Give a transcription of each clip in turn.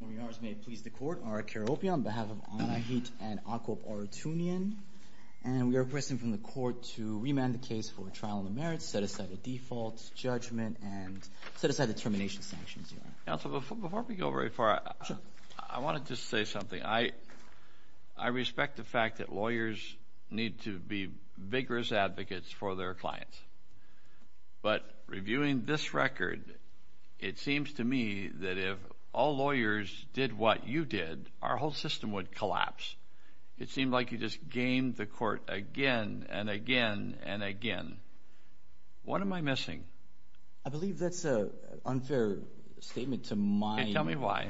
On behalf of Anahit and Akop Arutyunyan, and we are requesting from the court to remand the case for trial on the merits, set aside the defaults, judgment, and set aside the termination sanctions. Counsel, before we go very far, I wanted to say something. I respect the fact that lawyers need to be vigorous advocates for their clients, but reviewing this record, it seems to me that if all lawyers did what you did, our whole system would collapse. It seemed like you just gamed the court again and again and again. What am I missing? I believe that's an unfair statement to my… Tell me why.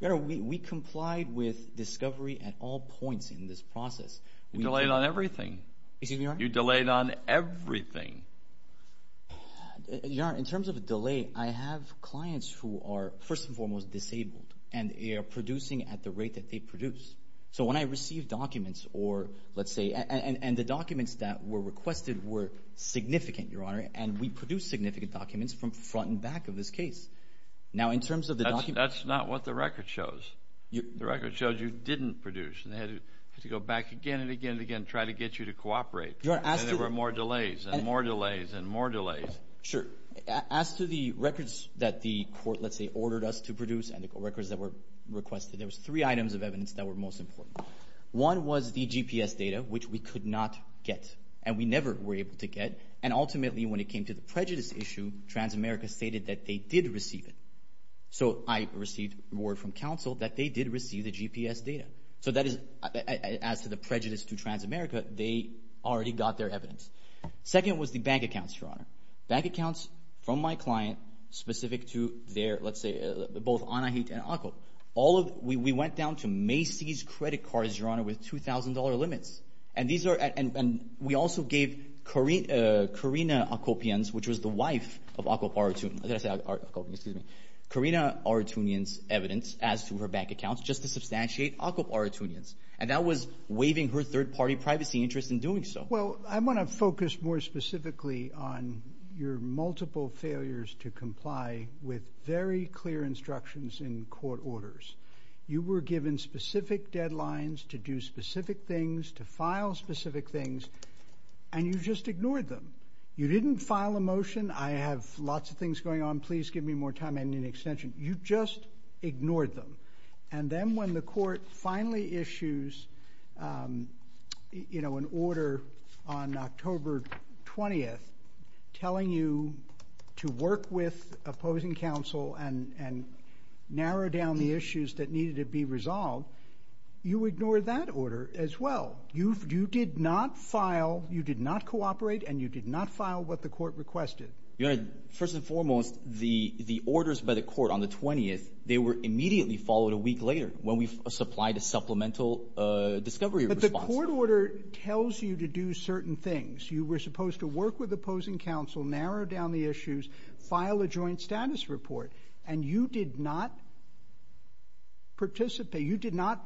We complied with discovery at all points in this process. You delayed on everything. Excuse me, Your Honor? You delayed on everything. Your Honor, in terms of delay, I have clients who are first and foremost disabled, and they are producing at the rate that they produce. So when I receive documents or let's say – and the documents that were requested were significant, Your Honor, and we produced significant documents from front and back of this case. Now, in terms of the documents… That's not what the record shows. The record shows you didn't produce, and they had to go back again and again and again and try to get you to cooperate. Your Honor, as to… And there were more delays and more delays and more delays. Sure. As to the records that the court, let's say, ordered us to produce and the records that were requested, there was three items of evidence that were most important. One was the GPS data, which we could not get, and we never were able to get. And ultimately, when it came to the prejudice issue, Transamerica stated that they did receive it. So I received word from counsel that they did receive the GPS data. So that is – as to the prejudice to Transamerica, they already got their evidence. Second was the bank accounts, Your Honor. Bank accounts from my client specific to their, let's say, both Anahit and Aqap. All of – we went down to Macy's credit cards, Your Honor, with $2,000 limits. And these are – and we also gave Karina Aqapians, which was the wife of Aqap Arutun – I thought I said Aqapians. Karina Arutunian's evidence as to her bank accounts just to substantiate Aqap Arutunian's, and that was waiving her third-party privacy interest in doing so. Well, I want to focus more specifically on your multiple failures to comply with very clear instructions in court orders. You were given specific deadlines to do specific things, to file specific things, and you just ignored them. You didn't file a motion, I have lots of things going on, please give me more time, I need an extension. You just ignored them. And then when the court finally issues an order on October 20th telling you to work with opposing counsel and narrow down the issues that needed to be resolved, you ignored that order as well. You did not file – you did not cooperate and you did not file what the court requested. Your Honor, first and foremost, the orders by the court on the 20th, they were immediately followed a week later when we supplied a supplemental discovery response. But the court order tells you to do certain things. You were supposed to work with opposing counsel, narrow down the issues, file a joint status report, and you did not participate. You did not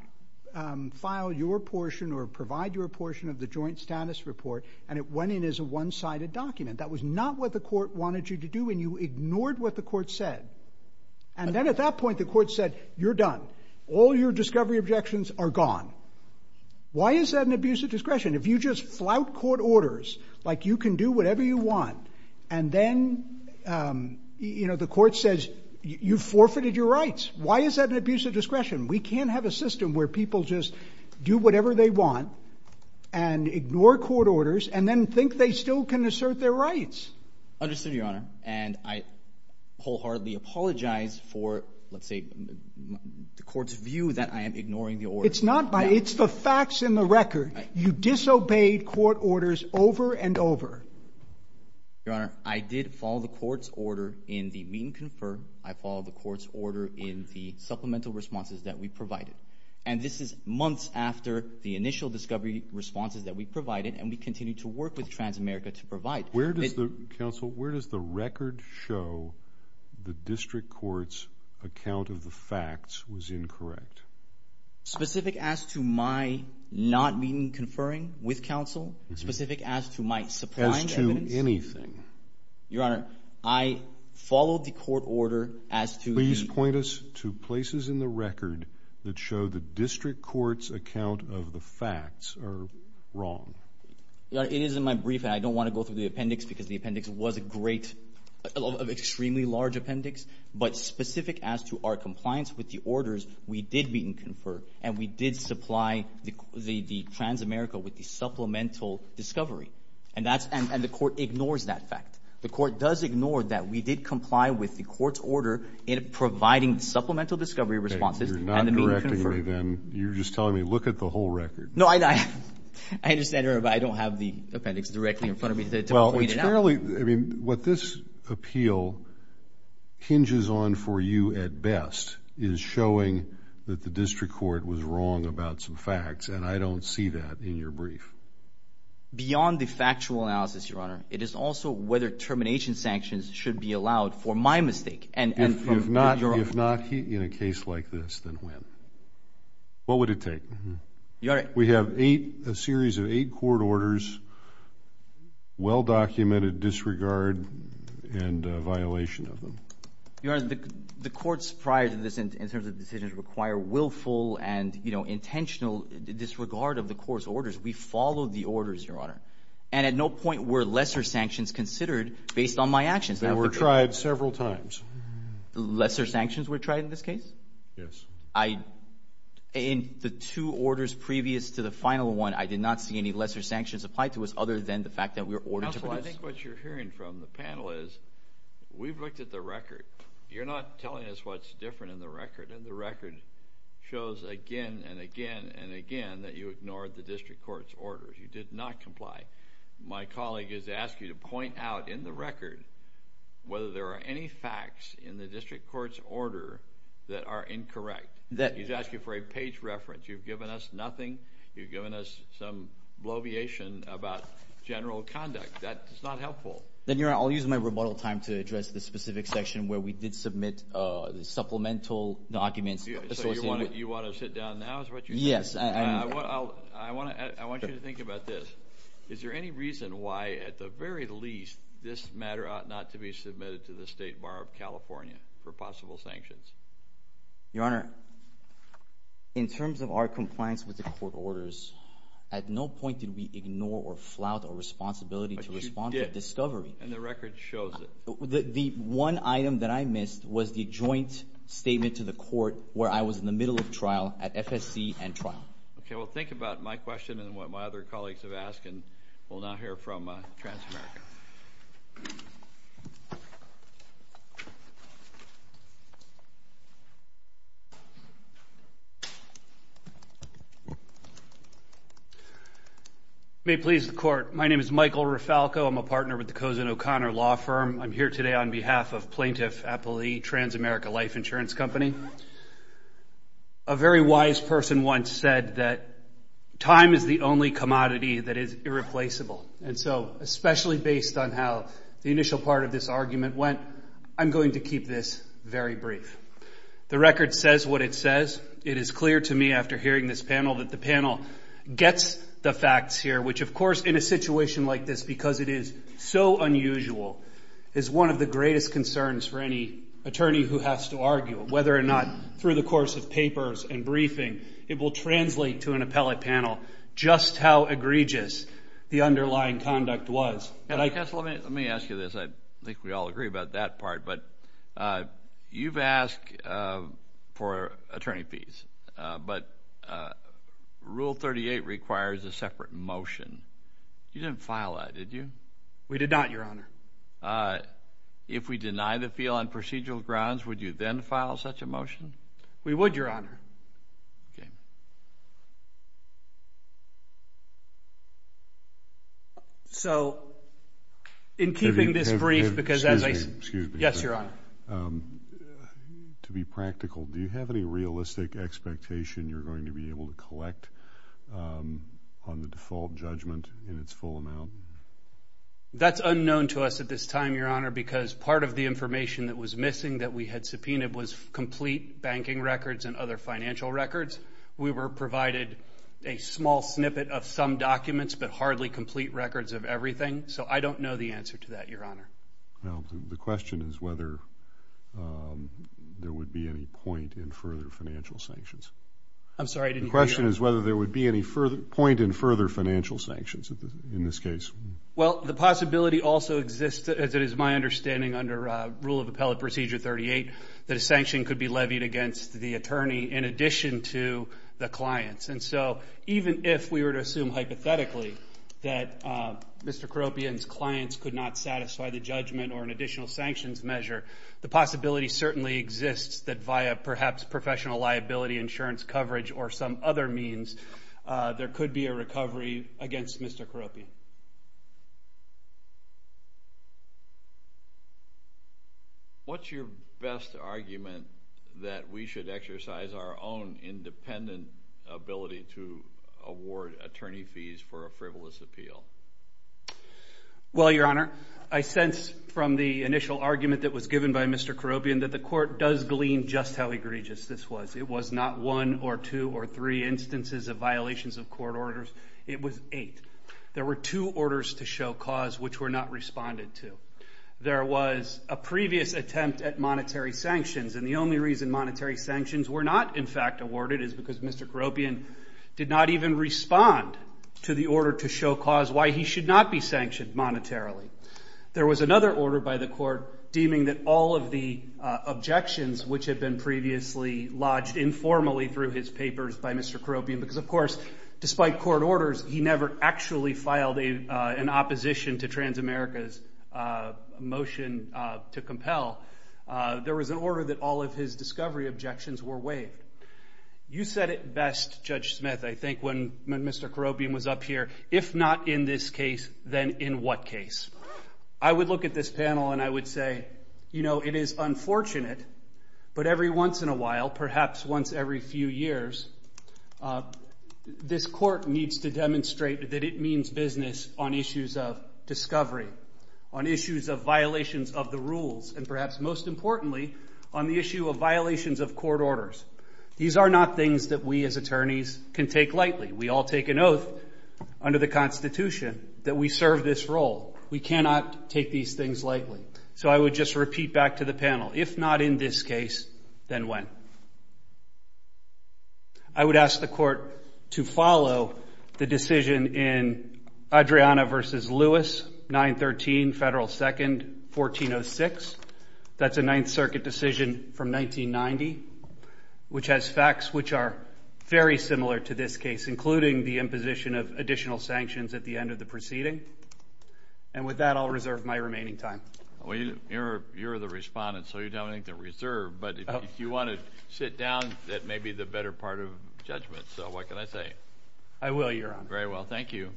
file your portion or provide your portion of the joint status report, and it went in as a one-sided document. That was not what the court wanted you to do, and you ignored what the court said. And then at that point, the court said, you're done. All your discovery objections are gone. Why is that an abuse of discretion? If you just flout court orders like you can do whatever you want, and then, you know, the court says, you forfeited your rights. Why is that an abuse of discretion? We can't have a system where people just do whatever they want and ignore court orders and then think they still can assert their rights. Understood, Your Honor. And I wholeheartedly apologize for, let's say, the court's view that I am ignoring the order. It's not by – it's the facts and the record. You disobeyed court orders over and over. Your Honor, I did follow the court's order in the meet and confer. I followed the court's order in the supplemental responses that we provided. And this is months after the initial discovery responses that we provided, and we continue to work with Transamerica to provide. Counsel, where does the record show the district court's account of the facts was incorrect? Specific as to my not meeting and conferring with counsel? Specific as to my supplying evidence? As to anything. Your Honor, I followed the court order as to the – Please point us to places in the record that show the district court's account of the facts are wrong. Your Honor, it is in my brief, and I don't want to go through the appendix because the appendix was a great – an extremely large appendix. But specific as to our compliance with the orders, we did meet and confer, and we did supply the Transamerica with the supplemental discovery. And that's – and the court ignores that fact. The court does ignore that we did comply with the court's order in providing supplemental discovery responses and the meet and confer. You're not directing me then. You're just telling me look at the whole record. No, I – I understand, Your Honor, but I don't have the appendix directly in front of me to point it out. Well, it's fairly – I mean, what this appeal hinges on for you at best is showing that the district court was wrong about some facts, and I don't see that in your brief. Beyond the factual analysis, Your Honor, it is also whether termination sanctions should be allowed for my mistake. If not in a case like this, then when? What would it take? We have eight – a series of eight court orders, well-documented disregard and violation of them. Your Honor, the courts prior to this in terms of decisions require willful and intentional disregard of the court's orders. We followed the orders, Your Honor, and at no point were lesser sanctions considered based on my actions. They were tried several times. Lesser sanctions were tried in this case? Yes. I – in the two orders previous to the final one, I did not see any lesser sanctions applied to us other than the fact that we were ordered to produce. Counsel, I think what you're hearing from the panel is we've looked at the record. You're not telling us what's different in the record, and the record shows again and again and again that you ignored the district court's orders. You did not comply. My colleague has asked you to point out in the record whether there are any facts in the district court's order that are incorrect. He's asked you for a page reference. You've given us nothing. You've given us some bloviation about general conduct. That is not helpful. Then, Your Honor, I'll use my rebuttal time to address the specific section where we did submit supplemental documents. So you want to sit down now is what you're saying? Yes. I want you to think about this. Is there any reason why, at the very least, this matter ought not to be submitted to the State Bar of California for possible sanctions? Your Honor, in terms of our compliance with the court orders, at no point did we ignore or flout our responsibility to respond to discovery. And the record shows it. The one item that I missed was the joint statement to the court where I was in the middle of trial at FSC and trial. Okay. Well, think about my question and what my other colleagues have asked, and we'll now hear from Transamerica. May it please the Court. My name is Michael Rifalco. I'm a partner with the Cozen O'Connor Law Firm. I'm here today on behalf of Plaintiff Appali, Transamerica Life Insurance Company. A very wise person once said that time is the only commodity that is irreplaceable. And so, especially based on how the initial part of this argument went, I'm going to keep this very brief. The record says what it says. It is clear to me after hearing this panel that the panel gets the facts here, which, of course, in a situation like this, because it is so unusual, is one of the greatest concerns for any attorney who has to argue. Whether or not through the course of papers and briefing, it will translate to an appellate panel just how egregious the underlying conduct was. Let me ask you this. I think we all agree about that part, but you've asked for attorney fees, but Rule 38 requires a separate motion. You didn't file that, did you? We did not, Your Honor. If we deny the fee on procedural grounds, would you then file such a motion? We would, Your Honor. Okay. So, in keeping this brief, because as I said… Excuse me. Yes, Your Honor. To be practical, do you have any realistic expectation you're going to be able to collect on the default judgment in its full amount? That's unknown to us at this time, Your Honor, because part of the information that was missing that we had subpoenaed was complete banking records and other financial records. We were provided a small snippet of some documents, but hardly complete records of everything, so I don't know the answer to that, Your Honor. The question is whether there would be any point in further financial sanctions. I'm sorry, I didn't hear you. The question is whether there would be any point in further financial sanctions in this case. Well, the possibility also exists, as it is my understanding under Rule of Appellate Procedure 38, that a sanction could be levied against the attorney in addition to the clients. And so even if we were to assume hypothetically that Mr. Coropian's clients could not satisfy the judgment or an additional sanctions measure, the possibility certainly exists that via perhaps professional liability, insurance coverage, or some other means, there could be a recovery against Mr. Coropian. What's your best argument that we should exercise our own independent ability to award attorney fees for a frivolous appeal? Well, Your Honor, I sense from the initial argument that was given by Mr. Coropian that the court does glean just how egregious this was. It was not one or two or three instances of violations of court orders. It was eight. There were two orders to show cause which were not responded to. There was a previous attempt at monetary sanctions, and the only reason monetary sanctions were not in fact awarded is because Mr. Coropian did not even respond to the order to show cause why he should not be sanctioned monetarily. There was another order by the court deeming that all of the objections which had been previously lodged informally through his papers by Mr. Coropian because, of course, despite court orders, he never actually filed an opposition to Transamerica's motion to compel. There was an order that all of his discovery objections were waived. You said it best, Judge Smith, I think, when Mr. Coropian was up here. If not in this case, then in what case? I would look at this panel and I would say, you know, it is unfortunate, but every once in a while, perhaps once every few years, this court needs to demonstrate that it means business on issues of discovery, on issues of violations of the rules, and perhaps most importantly, on the issue of violations of court orders. These are not things that we as attorneys can take lightly. We all take an oath under the Constitution that we serve this role. We cannot take these things lightly. So I would just repeat back to the panel, if not in this case, then when? I would ask the court to follow the decision in Adriana v. Lewis, 913 Federal 2nd, 1406. That's a Ninth Circuit decision from 1990, which has facts which are very similar to this case, including the imposition of additional sanctions at the end of the proceeding. And with that, I'll reserve my remaining time. Well, you're the respondent, so you don't have anything to reserve. But if you want to sit down, that may be the better part of judgment. So what can I say? I will, Your Honor. Very well. Thank you.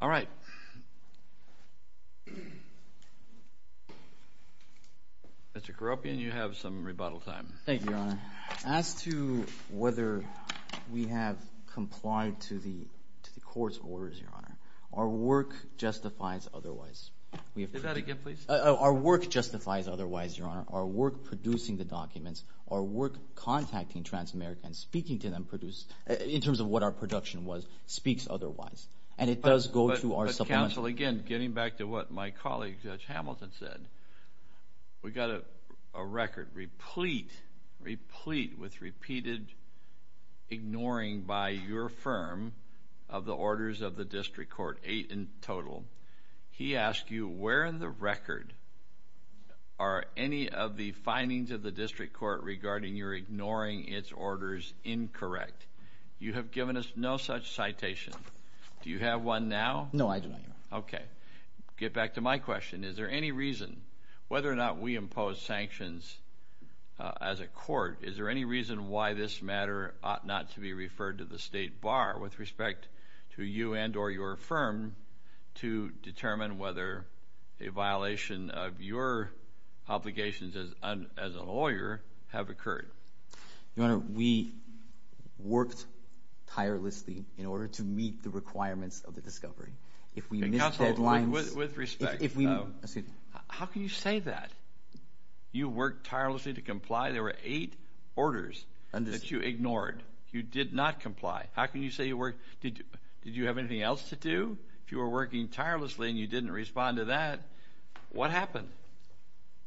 All right. Mr. Karopian, you have some rebuttal time. Thank you, Your Honor. As to whether we have complied to the court's orders, Your Honor, our work justifies otherwise. Say that again, please. Our work justifies otherwise, Your Honor. Our work producing the documents, our work contacting trans-Americans, speaking to them, in terms of what our production was, speaks otherwise. And it does go to our subpoena. But, counsel, again, getting back to what my colleague, Judge Hamilton, said, we've got a record replete with repeated ignoring by your firm of the orders of the district court, eight in total. He asked you where in the record are any of the findings of the district court regarding your ignoring its orders incorrect. You have given us no such citation. Do you have one now? No, I do not, Your Honor. Okay. Get back to my question. Is there any reason, whether or not we impose sanctions as a court, is there any reason why this matter ought not to be referred to the state bar with respect to you and or your firm to determine whether a violation of your obligations as a lawyer have occurred? Your Honor, we worked tirelessly in order to meet the requirements of the discovery. If we missed deadlines. Counsel, with respect, how can you say that? You worked tirelessly to comply. There were eight orders that you ignored. You did not comply. How can you say you worked? Did you have anything else to do? If you were working tirelessly and you didn't respond to that, what happened?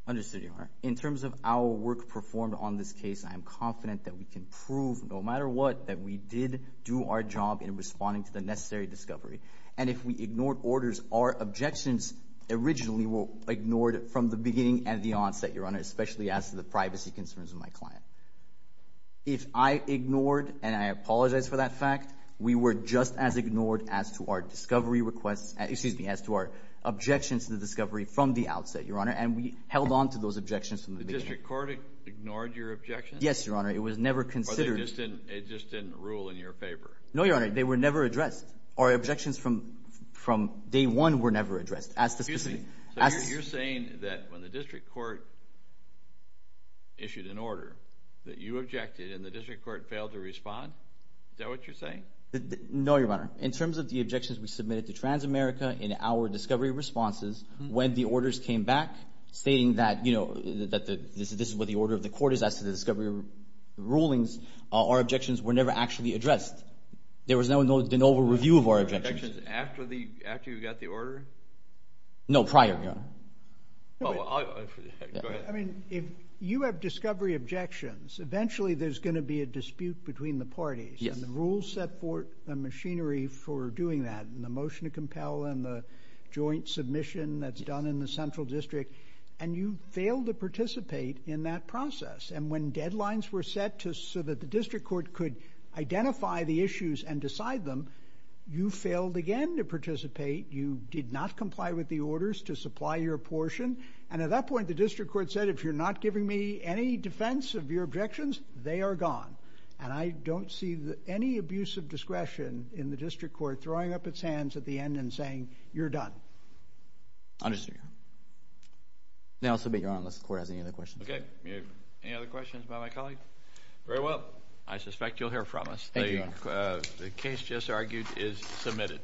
Understood, Your Honor. In terms of our work performed on this case, I am confident that we can prove no matter what that we did do our job in responding to the necessary discovery. And if we ignored orders, our objections originally were ignored from the beginning and the onset, Your Honor, especially as to the privacy concerns of my client. If I ignored and I apologize for that fact, we were just as ignored as to our discovery requests, excuse me, as to our objections to the discovery from the outset, Your Honor, and we held on to those objections from the beginning. The district court ignored your objections? Yes, Your Honor. It was never considered. Or they just didn't rule in your favor? No, Your Honor. They were never addressed. Our objections from day one were never addressed. So you're saying that when the district court issued an order that you objected and the district court failed to respond? Is that what you're saying? No, Your Honor. In terms of the objections we submitted to Transamerica in our discovery responses, when the orders came back stating that this is what the order of the court is as to the discovery rulings, our objections were never actually addressed. There was no review of our objections. No review of objections after you got the order? No, prior to that. Go ahead. I mean, if you have discovery objections, eventually there's going to be a dispute between the parties. Yes. And the rules set forth a machinery for doing that, and the motion to compel and the joint submission that's done in the central district, and you fail to participate in that process. And when deadlines were set so that the district court could identify the issues and decide them, you failed again to participate. You did not comply with the orders to supply your portion. And at that point, the district court said, if you're not giving me any defense of your objections, they are gone. And I don't see any abuse of discretion in the district court throwing up its hands at the end and saying, you're done. Understood, Your Honor. And I'll submit, Your Honor, unless the court has any other questions. Okay. Any other questions about my colleague? Very well. I suspect you'll hear from us. Thank you, Your Honor. The case just argued is submitted.